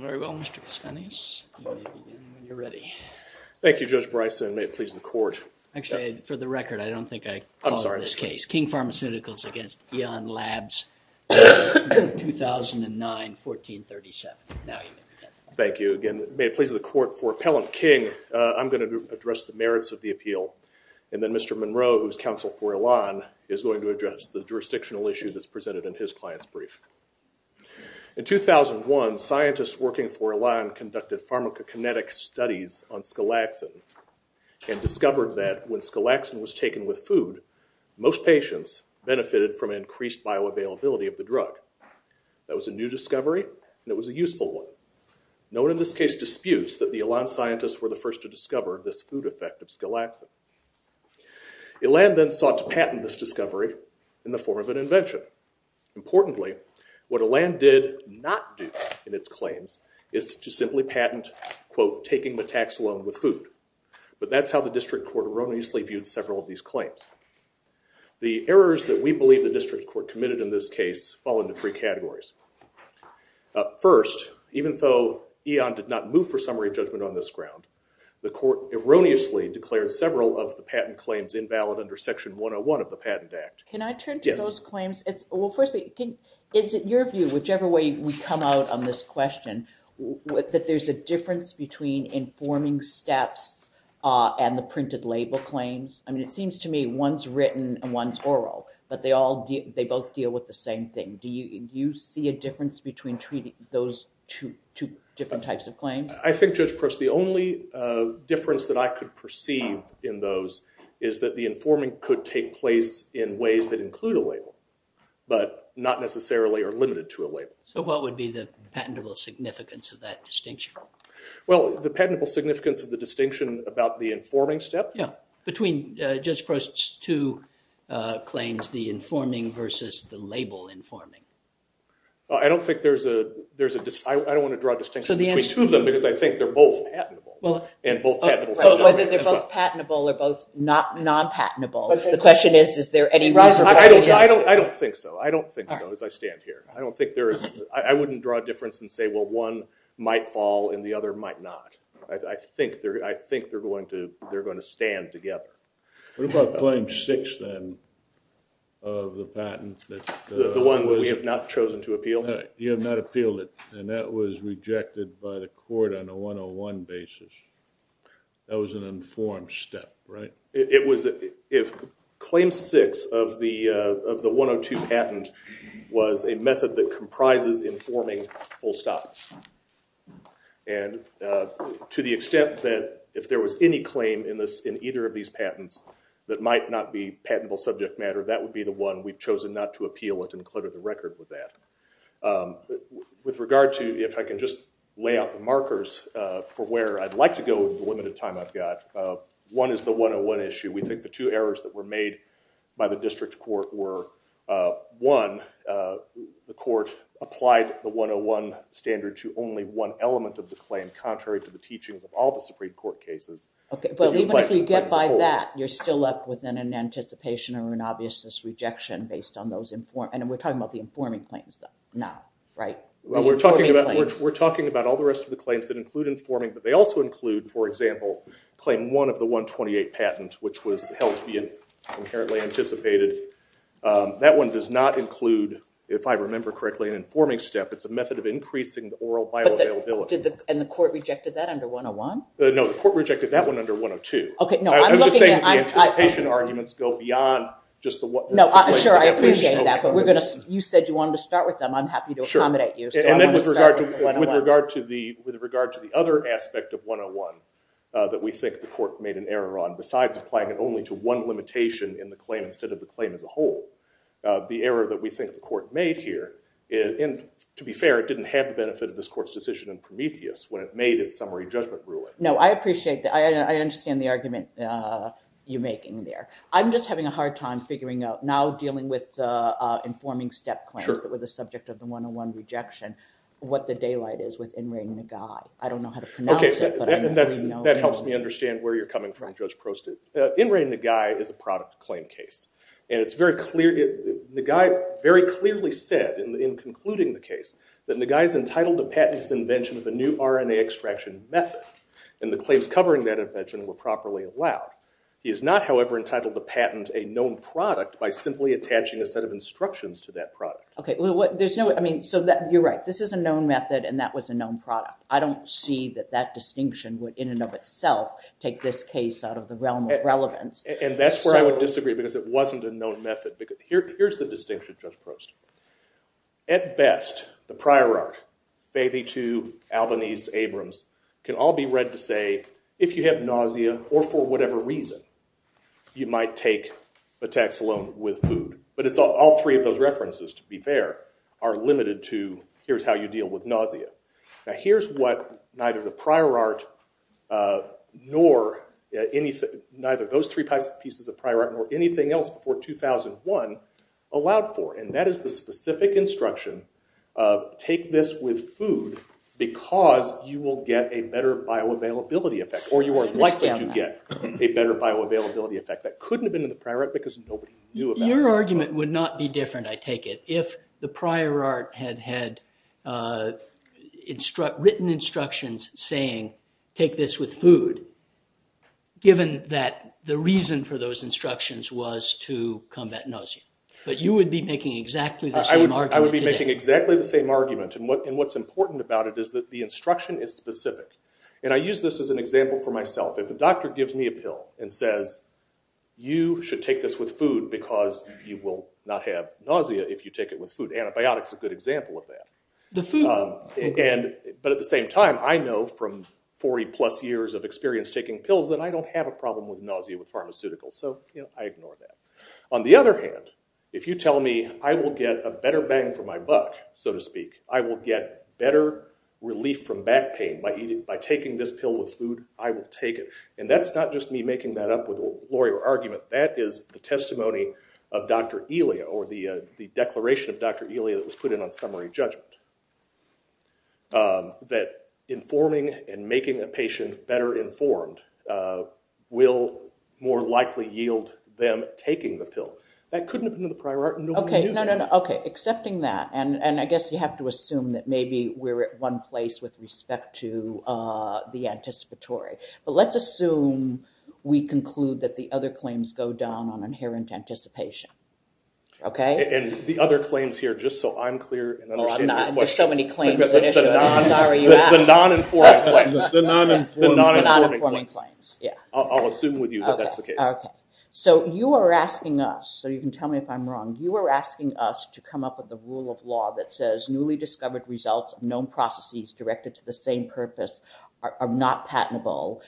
Very well, Mr. Piscanes. You're ready. Thank you, Judge Bryson. May it please the court. Actually, for the record, I don't think I called this case. I'm sorry. King Pharmaceuticals against Eon Labs, 2009, 1437. Thank you. Again, may it please the court. For Appellant King, I'm going to address the merits of the appeal, and then Mr. Monroe, who's counsel for Elan, is going to address the jurisdictional issue that's presented in his client's brief. In 2001, scientists working for Elan conducted pharmacokinetic studies on scalaxin, and discovered that when scalaxin was taken with food, most patients benefited from increased bioavailability of the drug. That was a new discovery, and it was a useful one. No one in this case disputes that the Elan scientists were the first to discover this food effect of scalaxin. Elan then sought to patent this discovery in the form of an invention. Importantly, what Elan did not do in its claims is to simply patent, quote, taking the tax alone with food. But that's how the district court erroneously viewed several of these claims. The errors that we believe the district court committed in this case fall into three categories. First, even though Eon did not move for summary judgment on this ground, the court erroneously declared several of the patent claims invalid under Section 101 of the Patent Act. Can I turn to those claims? Well, firstly, is it your view, whichever way we come out on this question, that there's a difference between informing steps and the printed label claims? I mean, it seems to me one's written and one's oral, but they both deal with the same thing. Do you see a difference between treating those two different types of claims? I think, Judge Post, the only difference that I could perceive in those is that the informing could take place in ways that include a label, but not necessarily are limited to a label. So what would be the patentable significance of that distinction? Well, the patentable significance of the distinction about the informing step? Yeah. Between Judge Post's two claims, the informing versus the label informing. Well, I don't think there's a distinction. I don't want to draw a distinction between two of them, because I think they're both patentable and both patentable subject. So whether they're both patentable or both non-patentable, the question is, is there any reservation there? I don't think so. I don't think so, as I stand here. I don't think there is. I wouldn't draw a difference and say, well, one might fall and the other might not. I think they're going to stand together. What about Claim 6, then, of the patent? The one that we have not chosen to appeal? You have not appealed it. And that was rejected by the court on a 101 basis. That was an informed step, right? It was. Claim 6 of the 102 patent was a method that comprises informing full stop. And to the extent that if there was any claim in either of these patents that might not be patentable subject matter, that would be the one we've chosen not to appeal it and clear the record with that. With regard to, if I can just lay out the markers for where I'd like to go with the limited time I've got, one is the 101 issue. We think the two errors that were made by the district court were, one, the court applied the 101 standard to only one element of the claim, contrary to the teachings of all the Supreme Court cases. But even if you get by that, you're still up within an anticipation or an obviousness rejection based on those informed, and we're talking about the informing claims now, right? We're talking about all the rest of the claims that include informing, but they also include, for example, Claim 1 of the 128 patent, which was held to be inherently anticipated. That one does not include, if I remember correctly, an informing step. It's a method of increasing the oral bioavailability. And the court rejected that under 101? No, the court rejected that one under 102. I'm just saying that the anticipation arguments go beyond just the one. Sure, I appreciate that, but you said you wanted to start with them. I'm happy to accommodate you. And then with regard to the other aspect of 101 that we think the court made an error on besides applying it only to one limitation in the claim instead of the claim as a whole, the error that we think the court made here, and to be fair, it didn't have the judgment rule in it. No, I appreciate that. I understand the argument you're making there. I'm just having a hard time figuring out, now dealing with the informing step claims that were the subject of the 101 rejection, what the daylight is with Inrei Nagai. I don't know how to pronounce it. Okay, that helps me understand where you're coming from, Judge Prostit. Inrei Nagai is a product claim case. And it's very clear, Nagai very clearly said in concluding the method. And the claims covering that invention were properly allowed. He is not, however, entitled to patent a known product by simply attaching a set of instructions to that product. Okay, well, there's no, I mean, so you're right. This is a known method and that was a known product. I don't see that that distinction would in and of itself take this case out of the realm of relevance. And that's where I would disagree, because it wasn't a known method. Because here's the prior art. Baby Tube, Albanese, Abrams, can all be read to say, if you have nausea or for whatever reason, you might take a tax loan with food. But it's all three of those references, to be fair, are limited to, here's how you deal with nausea. Now, here's what neither the prior art nor anything, neither those three pieces of prior art nor anything else before 2001 allowed for. And that is the specific instruction of, take this with food because you will get a better bioavailability effect. Or you are likely to get a better bioavailability effect. That couldn't have been in the prior art because nobody knew about it. Your argument would not be different, I take it, if the prior art had had written instructions saying, take this with food, given that the reason for those instructions was to combat nausea. But you would be making exactly the same argument today. I would be making exactly the same argument. And what's important about it is that the instruction is specific. And I use this as an example for myself. If a doctor gives me a pill and says, you should take this with food because you will not have nausea if you take it with food. Antibiotics is a good example of that. But at the same time, I know from 40 plus years of experience taking pills that I don't have a problem with nausea with pharmaceuticals. So I ignore that. On the other hand, if you tell me I will get a better bang for my buck, so to speak, I will get better relief from back pain by taking this pill with food, I will take it. And that's not just me making that up with a lawyer argument. That is the testimony of Dr. Elia or the declaration of Dr. Elia that was will more likely yield them taking the pill. That couldn't have been the prior art. Okay. No, no, no. Okay. Accepting that. And I guess you have to assume that maybe we're at one place with respect to the anticipatory. But let's assume we conclude that the other claims go down on inherent anticipation. Okay? And the other claims here, just so I'm clear. There's so many claims. I'm sorry you asked. The non-informing claims. I'll assume with you that that's the case. Okay. So you are asking us, so you can tell me if I'm wrong. You are asking us to come up with a rule of law that says newly discovered results of known processes directed to the same purpose are not patentable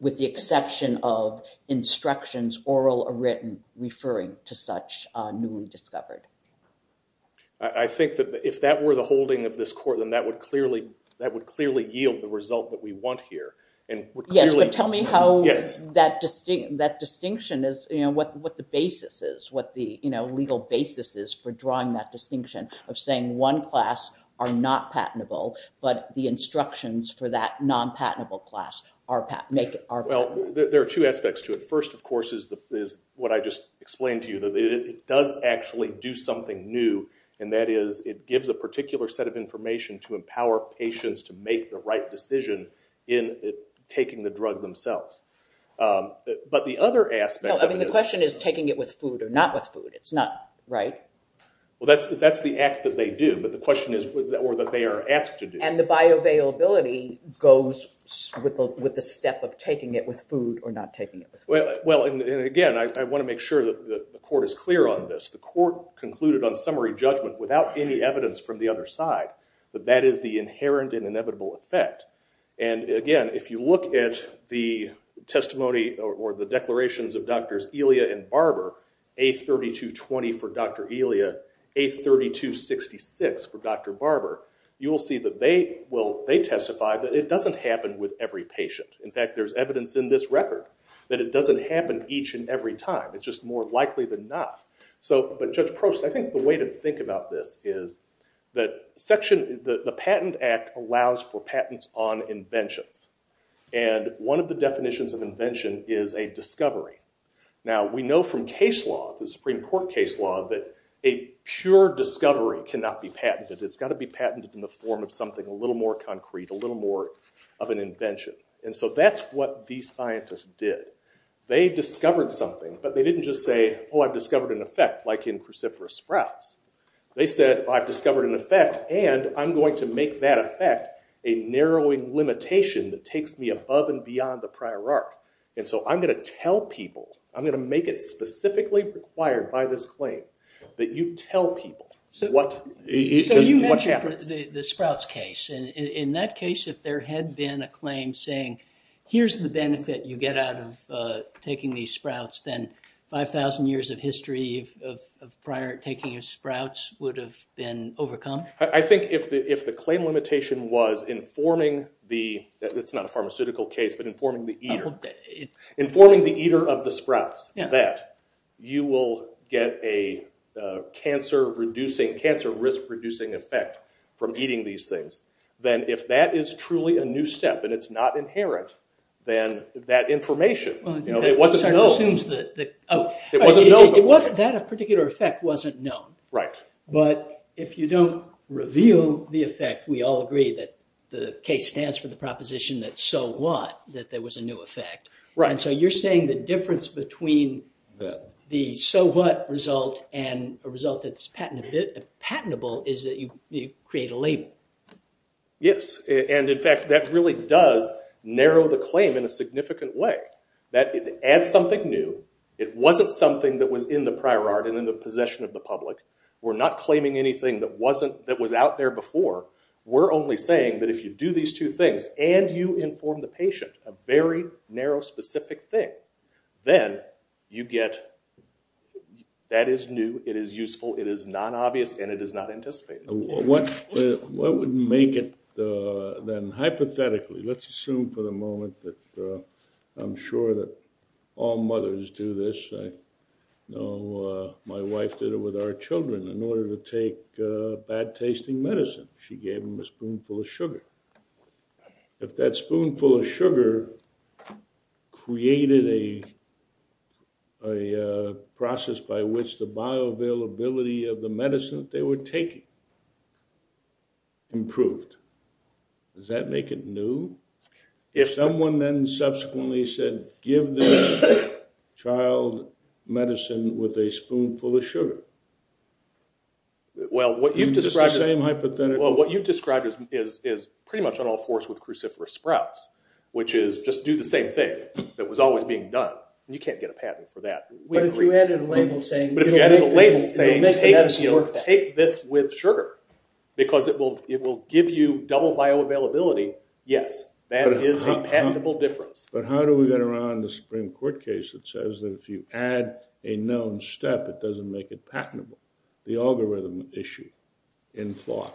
with the exception of instructions, oral or written, referring to such newly discovered. I think that if that were the holding of this court, then that would clearly yield the result that we want here. Yes. But tell me how that distinction is, what the basis is, what the legal basis is for drawing that distinction of saying one class are not patentable, but the instructions for that non-patentable class are patentable. Well, there are two aspects to it. First, of course, is what I just explained to you. That it does actually do something new. And that is it gives a particular set of information to empower patients to make the right decision in taking the drug themselves. But the other aspect- No, I mean, the question is taking it with food or not with food. It's not, right? Well, that's the act that they do. But the question is, or that they are asked to do. And the bioavailability goes with the step of taking it with food or not taking it with food. Well, and again, I want to make sure that the court is clear on this. The court concluded on the other side that that is the inherent and inevitable effect. And again, if you look at the testimony or the declarations of Drs. Elia and Barber, A3220 for Dr. Elia, A3266 for Dr. Barber, you will see that they testify that it doesn't happen with every patient. In fact, there's evidence in this record that it doesn't happen each and every time. It's just more likely than not. But Judge Prost, I think the way to think about this is that the Patent Act allows for patents on inventions. And one of the definitions of invention is a discovery. Now, we know from case law, the Supreme Court case law, that a pure discovery cannot be patented. It's got to be patented in the form of something a little more concrete, a little more of an invention. And so that's what these scientists did. They discovered something, but they didn't just say, oh, I've discovered an effect, like in cruciferous sprouts. They said, I've discovered an effect, and I'm going to make that effect a narrowing limitation that takes me above and beyond the prior arc. And so I'm going to tell people, I'm going to make it specifically required by this claim, that you tell people what happened. So you mentioned the sprouts case. And in that case, if there had been a claim saying, here's the benefit you get out of taking these sprouts, then 5,000 years of history of prior taking of sprouts would have been overcome? I think if the claim limitation was informing the, it's not a pharmaceutical case, but informing the eater, informing the eater of the sprouts that you will get a cancer-risk-reducing effect from eating these things, then if that is truly a new step and it's not inherent, then that information, it wasn't known. It wasn't known before. That particular effect wasn't known. But if you don't reveal the effect, we all agree that the case stands for the proposition that so what, that there was a new effect. And so you're saying the difference between the so what result and a result that's patentable is that you create a narrowed the claim in a significant way. That it adds something new. It wasn't something that was in the prior art and in the possession of the public. We're not claiming anything that wasn't, that was out there before. We're only saying that if you do these two things and you inform the patient, a very narrow specific thing, then you get that is new, it is useful, it is non-obvious, and it is not anticipated. What would make it then hypothetically? Let's assume for the moment that I'm sure that all mothers do this. I know my wife did it with our children in order to take bad tasting medicine. She gave them a spoonful of sugar. If that spoonful of sugar created a process by which the bioavailability of the medicine they were taking improved, does that make it new? If someone then subsequently said give this child medicine with a spoonful of sugar. Well, what you've described is pretty much on all fours with cruciferous sprouts, which is just do the same thing that was always being done. You can't get a patent for that. But if you added a label saying take this with sugar, because it will give you double bioavailability, yes, that is a patentable difference. But how do we get around the Supreme Court case that says that if you add a known step, it doesn't make it patentable? The algorithm issue in FOC.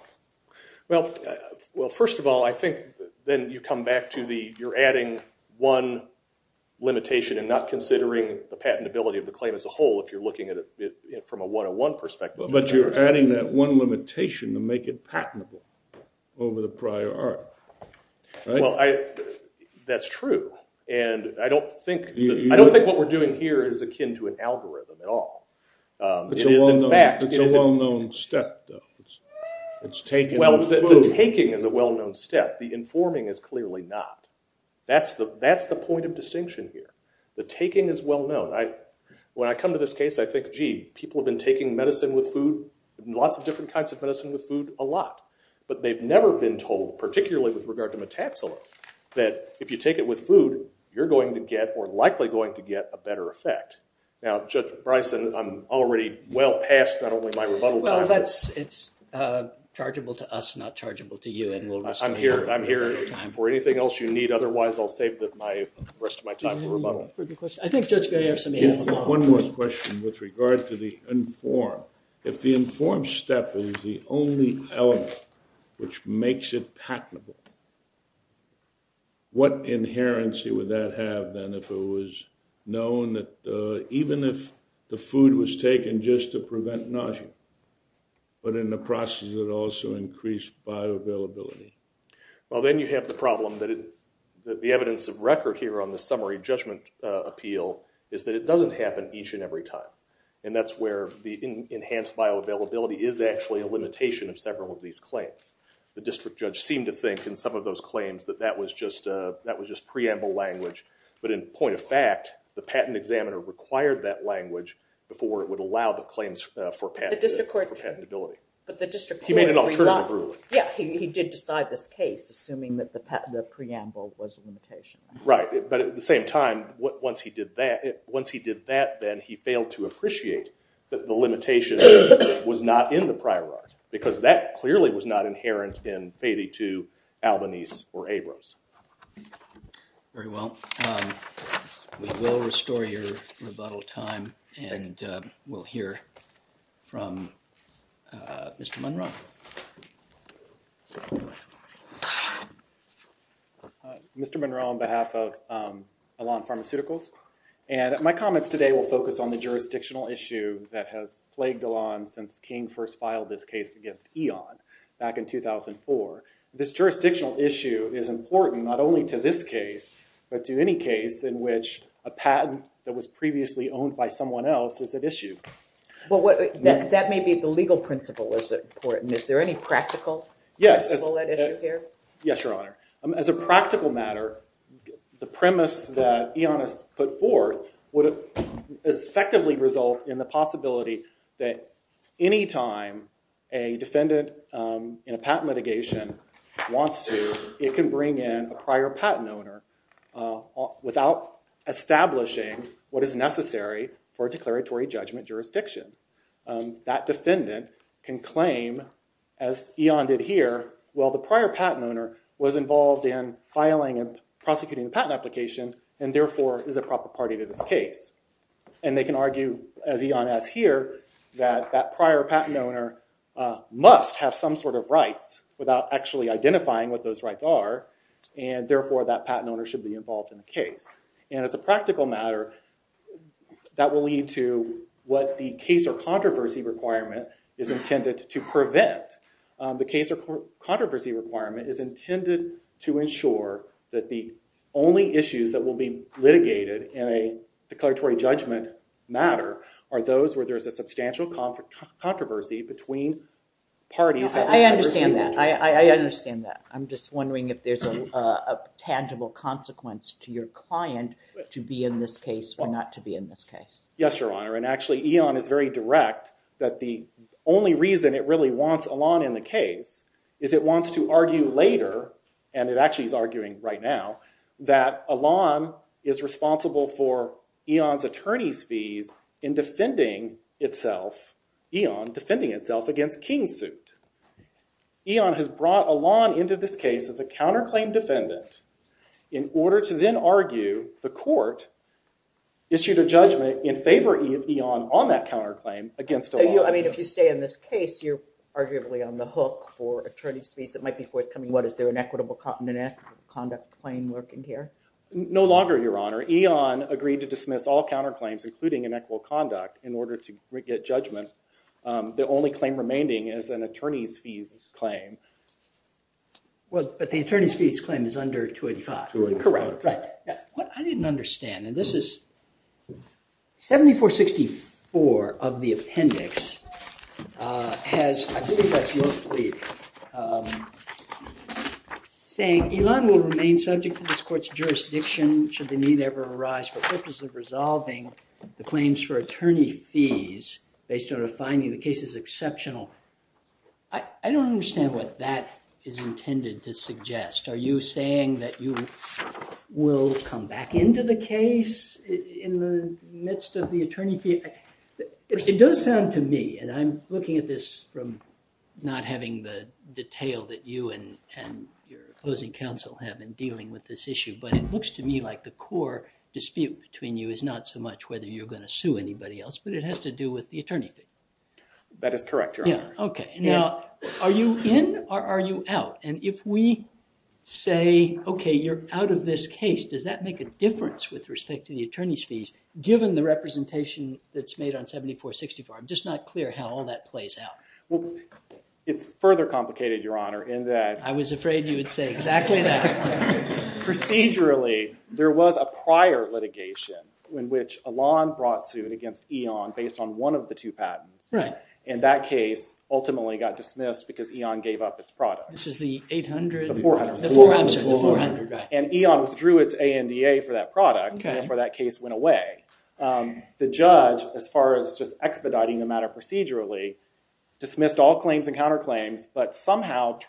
Well, first of all, I think then you come back to the you're adding one limitation and not considering the patentability of the claim as a whole if you're looking at it from a one-on-one perspective. But you're adding that one limitation to make it patentable over the prior art. That's true. And I don't think what we're doing here is akin to an algorithm at all. It's a well-known step, though. It's taking on food. Well, the taking is a well-known step. The informing is clearly not. That's the point of distinction here. The taking is well-known. When I come to this case, I think, gee, people have been taking medicine with food, lots of different kinds of medicine with food a lot. But they've never been told, particularly with regard to metaxolone, that if you take it with food, you're going to get or likely going to get a better effect. Now, Judge Bryson, I'm already well past not only my rebuttal time. Well, it's chargeable to us, not chargeable to you. And we'll resume in due time. I'm here for anything else you need. Otherwise, I'll save the rest of my time for rebuttal. I think Judge Gray has some answers. One more question with regard to the inform. If the inform step is the only element which makes it patentable, what inherency would that have then if it was known that even if the food was taken just to prevent nausea, but in the process it also increased bioavailability? Well, then you have the problem that the evidence of record here on the summary judgment appeal is that it doesn't happen each and every time. And that's where the enhanced bioavailability is actually a limitation of several of these claims. The district judge seemed to think in some of those claims that that was just preamble language. But in point of fact, the patent examiner required that language before it would allow the claims for patentability. But the district court— He made an alternative ruling. Yeah, he did decide this case, assuming that the preamble was a limitation. Right. But at the same time, once he did that, then he failed to appreciate that the limitation was not in the prior art, because that clearly was not inherent in Fadi II, Albanese, or Abrams. Very well. We will restore your rebuttal time, and we'll hear from Mr. Munro. Hi. Mr. Munro on behalf of Elan Pharmaceuticals. And my comments today will focus on the jurisdictional issue that has plagued Elan since King first filed this case against Eon back in 2004. This jurisdictional issue is important not only to this case, but to any case in which a patent that was previously owned by someone else is at issue. Well, that may be the legal principle that's important. Is there any practical principle at issue here? Yes, Your Honor. As a practical matter, the premise that Eon has put forth would effectively result in the possibility that any time a defendant in a patent litigation wants to, it can bring in a prior patent owner without establishing what is necessary for a declaratory judgment jurisdiction. That defendant can claim, as Eon did here, well, the prior patent owner was involved in filing and prosecuting the patent application, and therefore is a proper party to this case. And they can argue, as Eon has here, that that prior patent owner must have some sort of rights without actually identifying what those rights are, and therefore that patent owner should be involved in the case. And as a practical matter, that will lead to what the case or controversy requirement is intended to prevent. The case or litigated in a declaratory judgment matter are those where there's a substantial controversy between parties. I understand that. I understand that. I'm just wondering if there's a tangible consequence to your client to be in this case or not to be in this case. Yes, Your Honor. And actually, Eon is very direct that the only reason it really wants in the case is it wants to argue later, and it actually is arguing right now, that Elon is responsible for Eon's attorney's fees in defending itself, Eon defending itself against King's suit. Eon has brought Elon into this case as a counterclaim defendant in order to then argue the court issued a judgment in favor of Eon on that counterclaim against Elon. I mean, if you stay in this case, you're arguably on the hook for attorney's fees that might be forthcoming. What, is there an equitable conduct claim working here? No longer, Your Honor. Eon agreed to dismiss all counterclaims, including inequitable conduct, in order to get judgment. The only claim remaining is an attorney's fees claim. Well, but the attorney's fees claim is under 285. Correct. What I didn't understand, and this is 7464 of the appendix, has, I believe that's your plea, saying Elon will remain subject to this court's jurisdiction should the need ever arise for purpose of resolving the claims for attorney fees based on a finding the case is exceptional. I don't understand what that is intended to suggest. Are you saying that you will come back into the case in the midst of the attorney fee? It does sound to me, and I'm looking at this from not having the detail that you and your opposing counsel have been dealing with this issue, but it looks to me like the core dispute between you is not so much whether you're going to sue anybody else, but it has to do with the attorney fees. That is correct, Your Honor. OK. Now, are you in or are you out? And if we say, OK, you're out of this case, does that make a difference with respect to the attorney's fees, given the representation that's made on 7464? I'm just not clear how all that plays out. Well, it's further complicated, Your Honor, in that— I was afraid you would say exactly that. Procedurally, there was a prior litigation in which Elon brought suit against Elon based on one of the two patents, and that case ultimately got dismissed because Elon gave up its product. This is the 800— The 400. The 400. And Elon withdrew its ANDA for that product, and therefore that case went away. The judge, as far as just expediting the matter procedurally, dismissed all claims and counterclaims, but somehow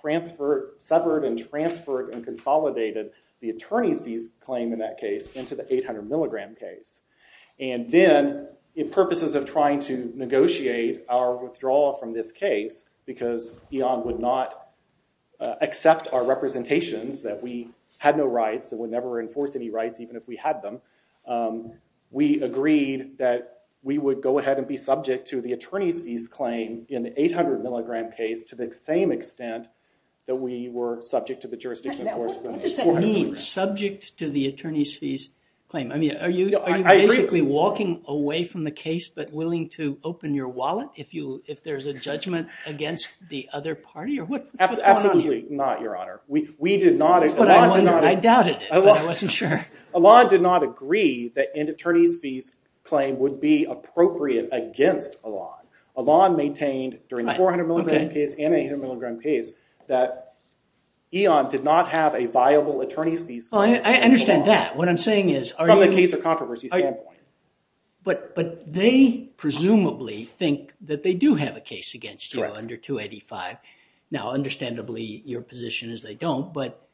severed and transferred and consolidated the attorney's fees claim in that case into the 800 milligram case. And then, in purposes of trying to negotiate our withdrawal from this case, because Elon would not accept our representations that we had no rights and would never enforce any rights, even if we had them, we agreed that we would go ahead and be subject to the attorney's fees claim in the 800 milligram case to the same extent that we were subject to the jurisdiction. Now, what does that mean, subject to the attorney's fees claim? I mean, are you basically walking away from the case but willing to open your wallet if there's a judgment against the other party? Or what's going on here? Absolutely not, Your Honor. We did not— That's what I wondered. I doubted. I wasn't sure. Elon did not agree that an attorney's fees claim would be appropriate against Elon. Elon maintained during the 400 milligram case and the 800 milligram case that Elon did not have a viable attorney's fees claim. I understand that. What I'm saying is— From a case of controversy standpoint. But they presumably think that they do have a case against you under 285. Now, understandably, your position is they don't. But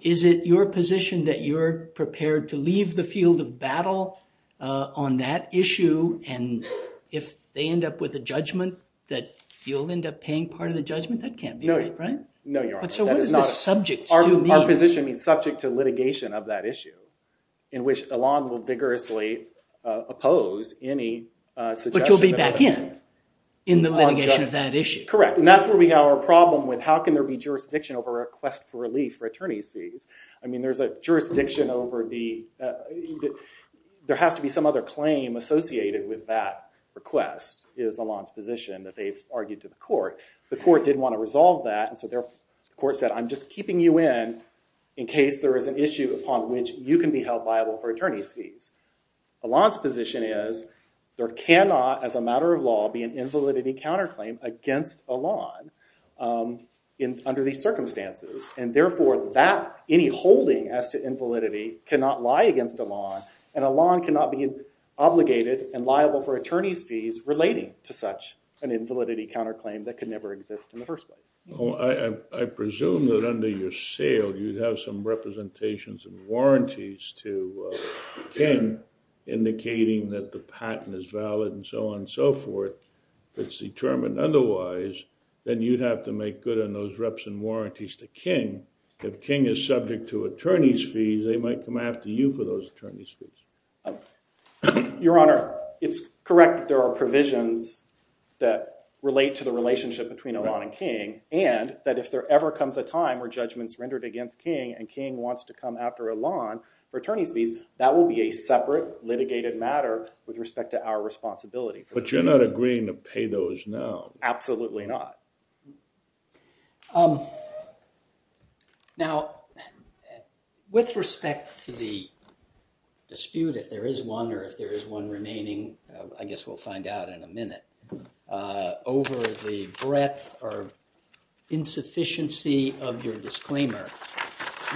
is it your position that you're prepared to leave the field of battle on that issue? And if they end up with a judgment that you'll end up paying part of the judgment? That can't be right, right? No, Your Honor. But so what does this subject to mean? Our position is subject to litigation of that issue in which Elon will vigorously oppose any suggestion— But you'll be back in, in the litigation of that issue. Correct. And that's where we have our problem with how can there be jurisdiction over a request for relief for attorney's fees? I mean, there's a jurisdiction over the— there has to be some other claim associated with that request is Elon's position that they've argued to the court. The court did want to resolve that. And so the court said, I'm just keeping you in in case there is an issue upon which you can be held liable for attorney's fees. Elon's position is there cannot, as a matter of law, be an invalidity counterclaim against Elon under these circumstances. And therefore, that— any holding as to invalidity cannot lie against Elon. And Elon cannot be obligated and liable for attorney's fees relating to such an invalidity counterclaim that could never exist in the first place. Well, I presume that under your sale, you'd have some representations and warranties to King indicating that the patent is valid and so on and so forth. If it's determined otherwise, then you'd have to make good on those reps and warranties to King. If King is subject to attorney's fees, they might come after you for those attorney's fees. Oh, your honor, it's correct that there are provisions that relate to the relationship between Elon and King, and that if there ever comes a time where judgment's rendered against King and King wants to come after Elon for attorney's fees, that will be a separate litigated matter with respect to our responsibility. But you're not agreeing to pay those now. Absolutely not. Now, with respect to the dispute, if there is one, or if there is one remaining, I guess we'll find out in a minute, over the breadth or insufficiency of your disclaimer,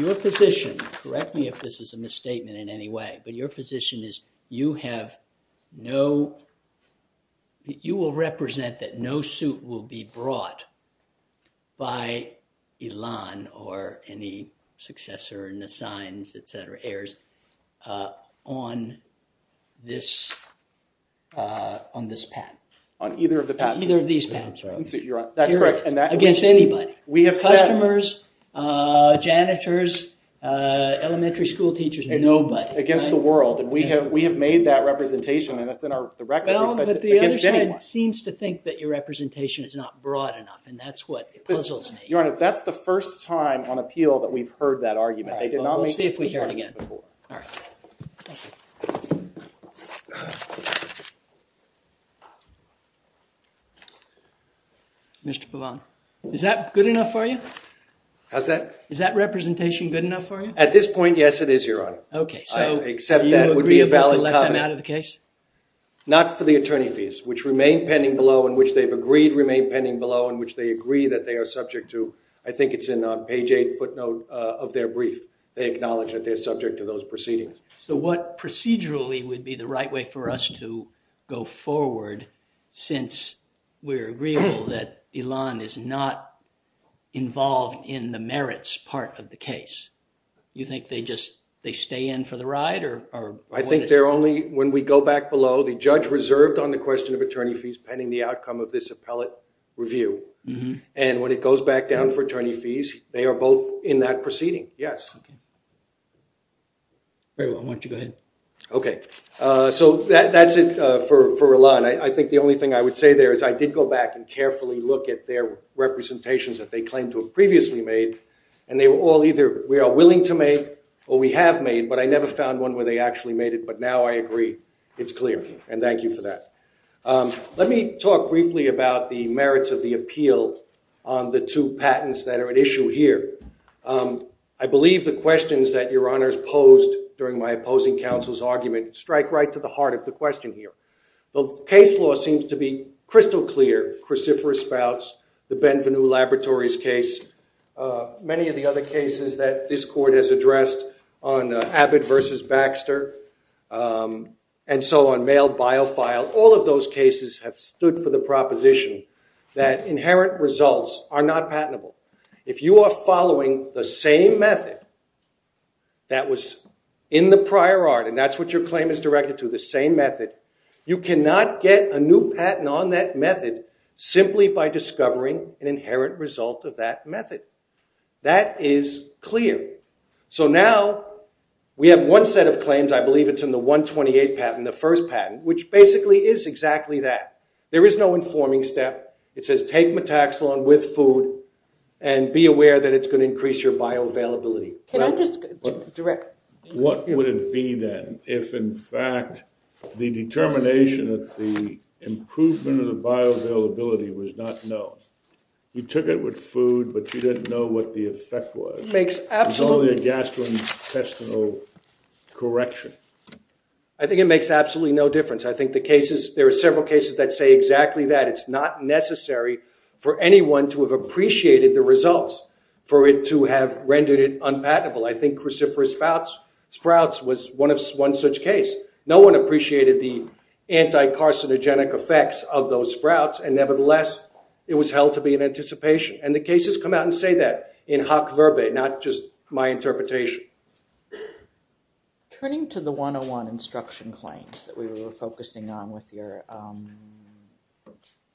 your position— correct me if this is a misstatement in any way— but your position is you have no— your position is it has not been brought by Elon or any successor, Nassim, etc. heirs on this patent. On either of the patents, right? Either of these patents. You're on. That's correct. Here against anybody. We have said— Customers, janitors, elementary school teachers, nobody. Against the world, and we have made that representation, and it's in our record. The other side seems to think that your representation is not broad enough, and that's what puzzles me. Your Honor, that's the first time on appeal that we've heard that argument. Mr. Pavan, is that good enough for you? How's that? Is that representation good enough for you? At this point, yes, it is, Your Honor. Okay, so— Except that it would be a valid comment. Not for the attorney fees, which remain pending below, and which they've agreed remain pending below, and which they agree that they are subject to. I think it's in page 8 footnote of their brief. They acknowledge that they're subject to those proceedings. So what procedurally would be the right way for us to go forward, since we're agreeable that Elon is not involved in the merits part of the case? You think they just— they stay in for the ride, or— I think they're only— when we go back below, the judge reserved on the question of attorney fees pending the outcome of this appellate review. And when it goes back down for attorney fees, they are both in that proceeding, yes. Very well, why don't you go ahead. Okay, so that's it for Elon. I think the only thing I would say there is I did go back and carefully look at their representations that they claim to have previously made, and they were all either we are willing to make or we have made, but I never found one where they actually made it, but now I agree it's clear, and thank you for that. Let me talk briefly about the merits of the appeal on the two patents that are at issue here. I believe the questions that your honors posed during my opposing counsel's argument strike right to the heart of the question here. The case law seems to be crystal clear, cruciferous spouts, the Benvenu Laboratories case, many of the other cases that this court has addressed on Abbott versus Baxter, and so on, mail bio file, all of those cases have stood for the proposition that inherent results are not patentable. If you are following the same method that was in the prior art, and that's what your claim is directed to, the same method, you cannot get a new patent on that method simply by discovering an inherent result of that method. That is clear. So now we have one set of claims, I believe it's in the 128 patent, the first patent, which basically is exactly that. There is no informing step. It says take metaxalon with food, and be aware that it's going to increase your bioavailability. Can I just direct? What would it be then if in fact the determination that the improvement of the bioavailability was not known? You took it with food, but you didn't know what the effect was. It makes absolutely... It's only a gastrointestinal correction. I think it makes absolutely no difference. I think there are several cases that say exactly that. It's not necessary for anyone to have appreciated the results for it to have rendered it unpatentable. I think cruciferous sprouts was one such case. No one appreciated the anti-carcinogenic effects of those sprouts, and nevertheless, it was held to be in anticipation. And the cases come out and say that in hoc verba, not just my interpretation. Turning to the 101 instruction claims that we were focusing on with your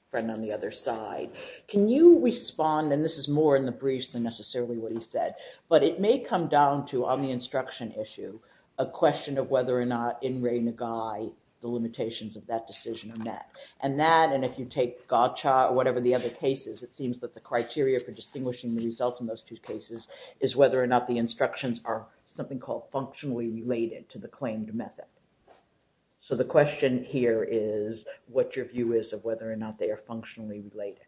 friend on the other side, can you respond, and this is more in the briefs than necessarily what he said, but it may come down to, on the instruction issue, a question of whether or not in re negai, the limitations of that decision are met. And that, and if you take gotcha or whatever the other case is, it seems that the criteria for distinguishing the results in those two cases is whether or not the instructions are something called functionally related to the claimed method. So the question here is what your view is of whether or not they are functionally related.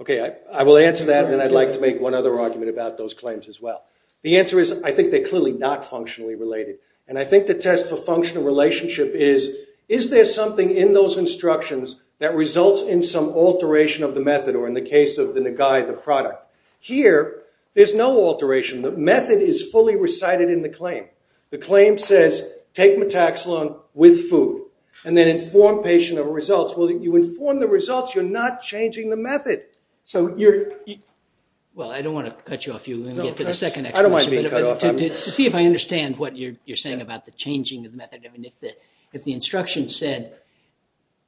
Okay, I will answer that, and then I'd like to make one other argument about those claims as well. The answer is, I think they're clearly not functionally related. And I think the test for functional relationship is, is there something in those instructions that results in some alteration of the method or in the case of the negai, the product? Here, there's no alteration. The method is fully recited in the claim. The claim says, take metaxalon with food, and then inform patient of results. Well, you inform the results, you're not changing the method. So you're... Well, I don't want to cut you off. You're going to get to the second explanation. I don't want to be cut off. To see if I understand what you're saying about the changing of method. I mean, if the instruction said,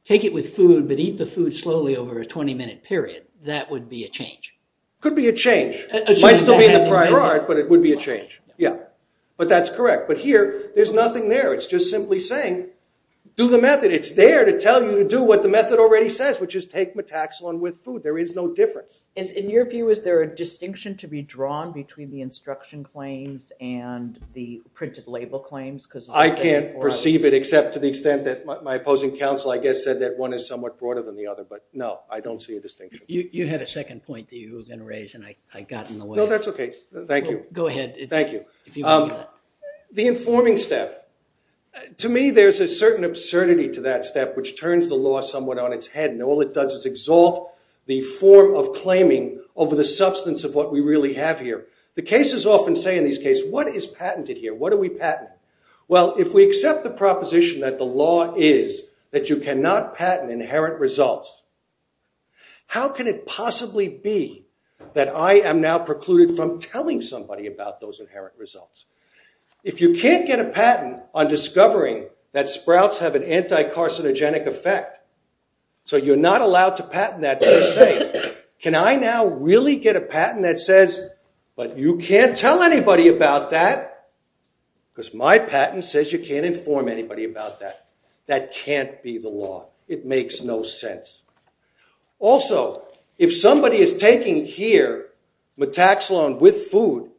take it with food, but eat the food slowly over a 20 minute period, that would be a change. Could be a change. Might still be in the prior art, but it would be a change. Yeah, but that's correct. But here, there's nothing there. It's just simply saying, do the method. It's there to tell you to do what the method already says, which is take metaxalon with food. There is no difference. In your view, is there a distinction to be drawn between the instruction claims and the printed label claims? I can't perceive it, except to the extent that my opposing counsel, I guess, said that one is somewhat broader than the other. But no, I don't see a distinction. You had a second point that you were going to raise, and I got in the way. No, that's OK. Thank you. Go ahead. Thank you. The informing step. To me, there's a certain absurdity to that step, which turns the law somewhat on its head. All it does is exalt the form of claiming over the substance of what we really have here. The cases often say in these cases, what is patented here? What are we patenting? Well, if we accept the proposition that the law is that you cannot patent inherent results, how can it possibly be that I am now precluded from telling somebody about those inherent results? If you can't get a patent on discovering that sprouts have an anti-carcinogenic effect, so you're not allowed to patent that per se, can I now really get a patent that says, but you can't tell anybody about that, because my patent says you can't inform anybody about that? That can't be the law. It makes no sense. Also, if somebody is taking here metaxalon with food,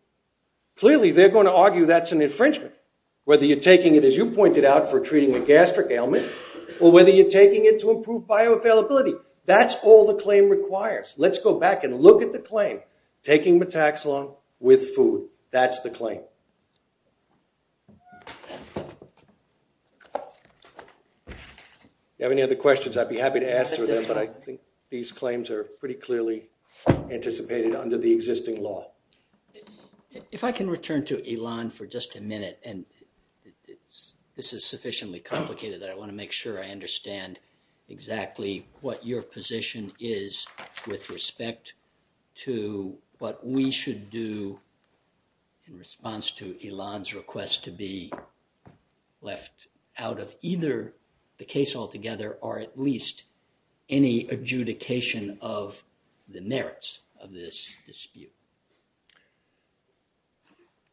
clearly, they're going to argue that's an infringement, whether you're taking it, as you pointed out, for treating a gastric ailment, or whether you're taking it to improve bioavailability. That's all the claim requires. Let's go back and look at the claim, taking metaxalon with food. That's the claim. Do you have any other questions? I'd be happy to answer them, but I think these claims are pretty clearly anticipated under the existing law. If I can return to Elon for just a minute, and this is sufficiently complicated that I want to make sure I understand exactly what your position is with respect to what we should do in response to Elon's request to be left out of either the case altogether, or at least any adjudication of the merits of this dispute.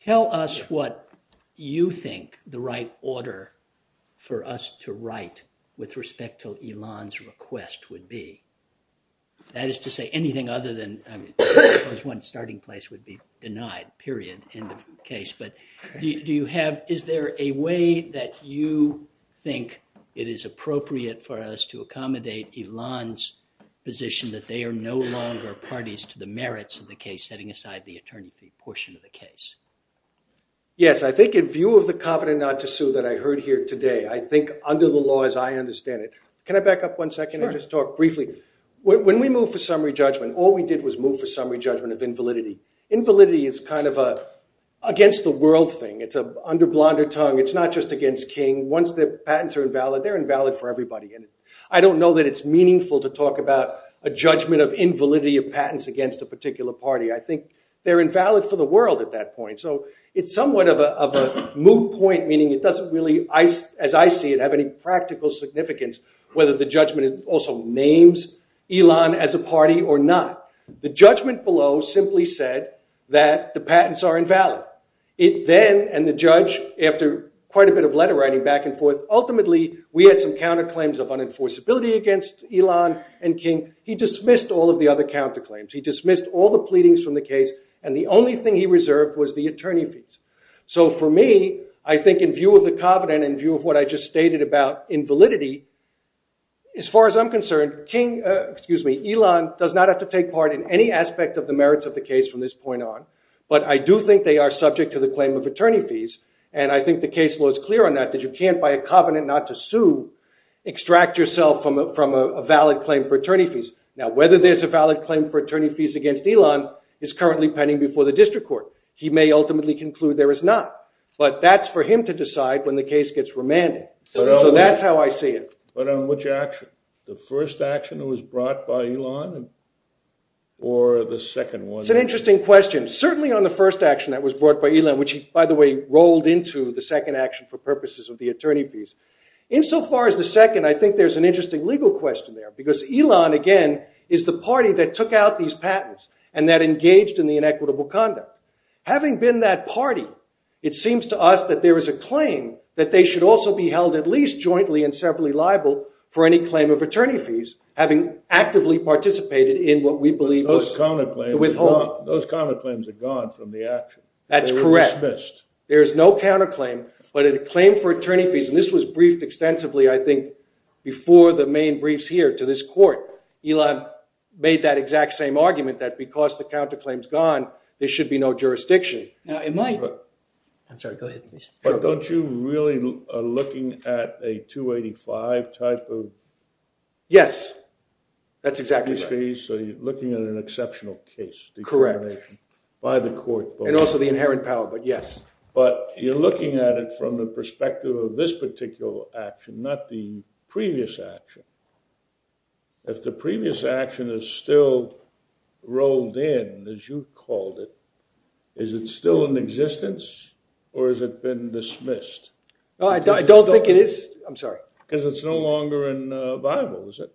Tell us what you think the right order for us to write with respect to Elon's request would be. That is to say anything other than, I mean, I suppose one starting place would be denied, period, end of case. But do you have, is there a way that you think it is appropriate for us to accommodate Elon's position that they are no longer parties to the merits of the case setting aside the attorney portion of the case? Yes, I think in view of the covenant not to sue that I heard here today, I think under the law as I understand it. Can I back up one second and just talk briefly? When we moved for summary judgment, all we did was move for summary judgment of invalidity. Invalidity is kind of a against the world thing. It's a under blonder tongue. It's not just against King. Once the patents are invalid, they're invalid for everybody. I don't know that it's meaningful to talk about a judgment of invalidity of patents against a particular party. They're invalid for the world at that point. So it's somewhat of a moot point, meaning it doesn't really, as I see it, have any practical significance whether the judgment also names Elon as a party or not. The judgment below simply said that the patents are invalid. Then, and the judge, after quite a bit of letter writing back and forth, ultimately we had some counterclaims of unenforceability against Elon and King. He dismissed all of the other counterclaims. He dismissed all the pleadings from the case. And the only thing he reserved was the attorney fees. So for me, I think in view of the covenant and view of what I just stated about invalidity, as far as I'm concerned, King, excuse me, Elon does not have to take part in any aspect of the merits of the case from this point on. But I do think they are subject to the claim of attorney fees. And I think the case law is clear on that, that you can't, by a covenant not to sue, extract yourself from a valid claim for attorney fees. Now, whether there's a valid claim for attorney fees against Elon is currently pending before the district court. He may ultimately conclude there is not. But that's for him to decide when the case gets remanded. So that's how I see it. But on which action? The first action that was brought by Elon or the second one? It's an interesting question. Certainly on the first action that was brought by Elon, which he, by the way, rolled into the second action for purposes of the attorney fees. Insofar as the second, I think there's an interesting legal question there. Because Elon, again, is the party that took out these patents and that engaged in the inequitable conduct. Having been that party, it seems to us that there is a claim that they should also be held at least jointly and severally liable for any claim of attorney fees, having actively participated in what we believe was the withholding. Those counterclaims are gone from the action. That's correct. There is no counterclaim. But a claim for attorney fees, and this was briefed extensively, I think, before the main briefs here to this court, Elon made that exact same argument that because the counterclaim's gone, there should be no jurisdiction. Now, in my book, I'm sorry, go ahead, please. But don't you really are looking at a 285 type of? Yes. That's exactly right. So you're looking at an exceptional case. Correct. By the court. And also the inherent power, but yes. But you're looking at it from the perspective of this particular action, not the previous action. If the previous action is still rolled in, as you called it, is it still in existence? Or has it been dismissed? No, I don't think it is. I'm sorry. Because it's no longer viable, is it?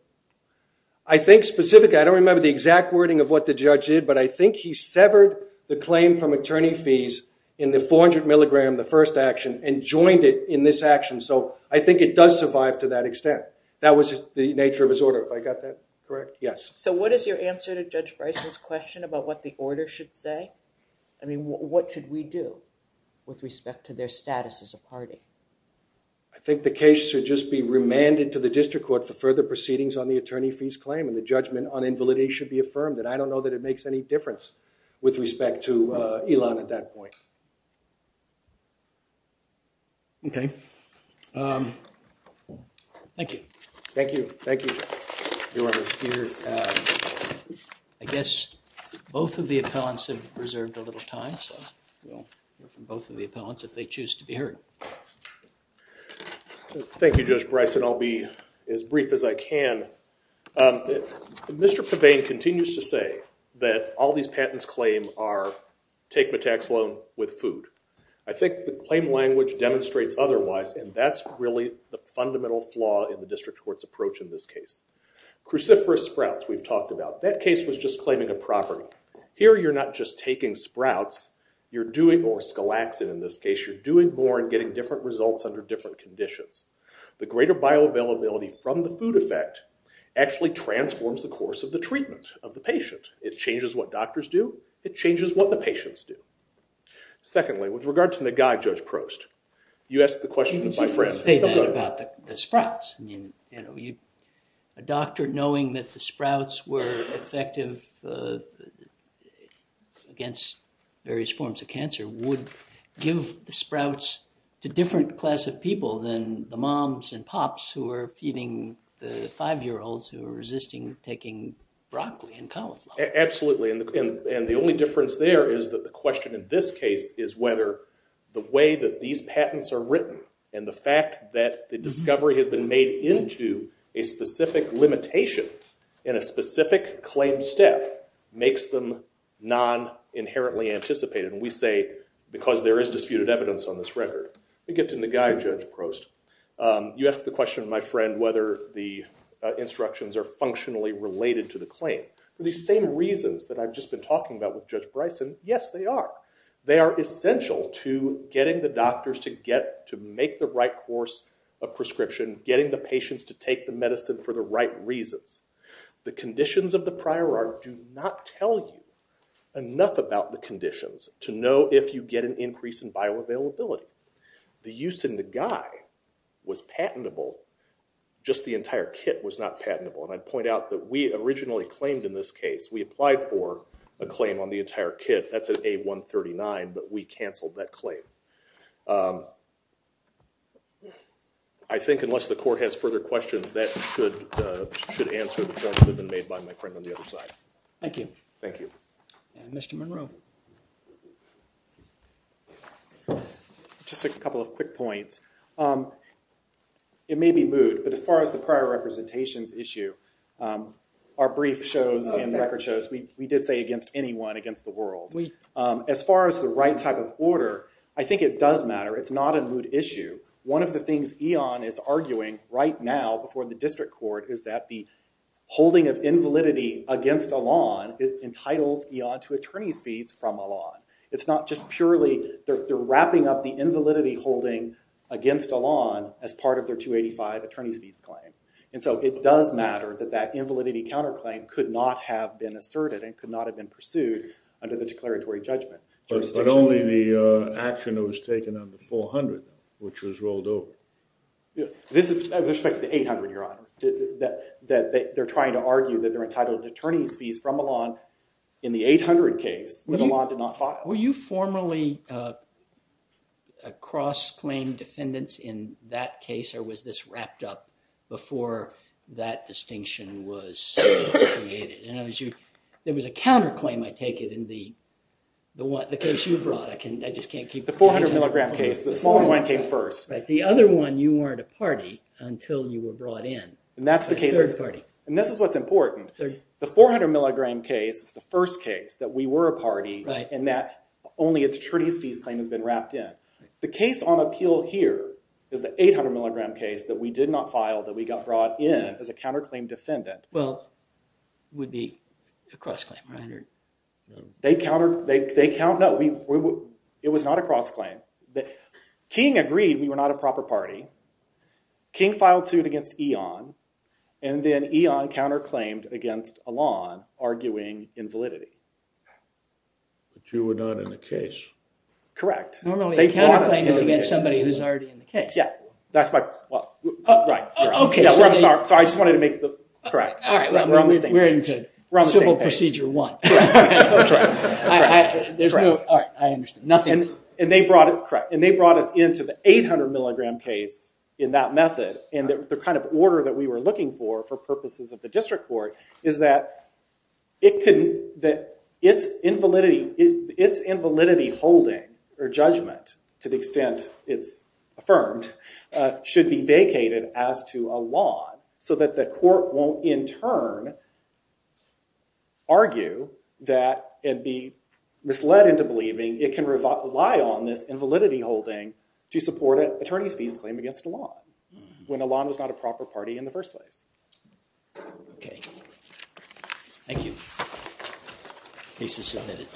I think specifically, I don't remember the exact wording of what the judge did. But I think he severed the claim from attorney fees in the 400 milligram, the first action, and joined it in this action. So I think it does survive to that extent. That was the nature of his order. Have I got that correct? Yes. So what is your answer to Judge Bryson's question about what the order should say? I mean, what should we do with respect to their status as a party? I think the case should just be remanded to the district court for further proceedings on the attorney fees claim. And the judgment on invalidity should be affirmed. And I don't know that it makes any difference with respect to Elon at that point. OK. Thank you. Thank you. Thank you, Your Honor. I guess both of the appellants have reserved a little time. So we'll hear from both of the appellants if they choose to be heard. Thank you, Judge Bryson. I'll be as brief as I can. Mr. Pavane continues to say that all these patents claim are take my tax loan with food. I think the claim language demonstrates otherwise. And that's really the fundamental flaw in the district court's approach in this case. Cruciferous sprouts, we've talked about. That case was just claiming a property. Here, you're not just taking sprouts. You're doing more scalaxin in this case. You're doing more and getting different results under different conditions. The greater bioavailability from the food effect actually transforms the course of the treatment of the patient. It changes what doctors do. It changes what the patients do. Secondly, with regard to Nagai, Judge Prost, you asked the question of my friend. You didn't say that about the sprouts. A doctor knowing that the sprouts were effective against various forms of cancer would give the sprouts to different class of people than the moms and pops who are feeding the five-year-olds who are resisting taking broccoli and cauliflower. Absolutely. And the only difference there is that the question in this case is whether the way that these patents are written and the fact that the discovery has been made into a specific limitation in a specific claim step makes them non-inherently anticipated. And we say, because there is disputed evidence on this record. We get to Nagai, Judge Prost. You asked the question of my friend whether the instructions are functionally related to the claim. These same reasons that I've just been talking about with Judge Bryson, yes, they are. They are essential to getting the doctors to make the right course of prescription, getting the patients to take the medicine for the right reasons. The conditions of the prior art do not tell you enough about the conditions to know if you get an increase in bioavailability. The use in Nagai was patentable. Just the entire kit was not patentable. And I'd point out that we originally claimed in this case, we applied for a claim on the entire kit. That's at A139, but we canceled that claim. I think unless the court has further questions, that should answer the judgment made by my friend on the other side. Thank you. Thank you. Mr. Monroe. Just a couple of quick points. It may be moot, but as far as the prior representations issue, our brief shows and record shows, we did say against anyone against the world. As far as the right type of order, I think it does matter. It's not a moot issue. One of the things Eon is arguing right now before the district court is that the holding of invalidity against Elan entitles Eon to attorney's fees from Elan. It's not just purely they're wrapping up the invalidity holding against Elan as part of their 285 attorney's fees claim. And so it does matter that that invalidity counterclaim could not have been asserted and could not have been pursued under the declaratory judgment. But only the action that was taken on the 400, which was rolled over. This is with respect to the 800, Your Honor. That they're trying to argue that they're entitled attorney's fees from Elan in the 800 case that Elan did not file. Were you formerly a cross-claim defendants in that case, or was this wrapped up before that distinction was created? And there was a counterclaim, I take it, in the case you brought. I just can't keep repeating it. The 400 milligram case. The smaller one came first. The other one, you weren't a party until you were brought in. And that's the case. And this is what's important. The 400 milligram case is the first case that we were a party, and that only attorney's fees claim has been wrapped in. The case on appeal here is the 800 milligram case that we did not file, that we got brought in as a counterclaim defendant. Well, it would be a cross-claim, right? It was not a cross-claim. King agreed we were not a proper party. King filed suit against Eon. And then Eon counterclaimed against Elan, arguing invalidity. The two were not in the case. Correct. Normally, a counterclaim is against somebody who's already in the case. Yeah. That's my point. Right. OK. Sorry, I just wanted to make the correct. We're on the same page. We're into simple procedure one. Correct. That's right. There's no, all right, I understand. And they brought it, correct. And they brought us into the 800 milligram case in that method. And the kind of order that we were looking for, for purposes of the district court, is that its invalidity holding, or judgment, to the extent it's affirmed, should be vacated as to Elan, so that the court won't, in turn, argue that it'd be misled into believing it can rely on this invalidity holding to support an attorney's fees claim against Elan, when Elan was not a proper party in the first place. OK. Thank you. Case is submitted.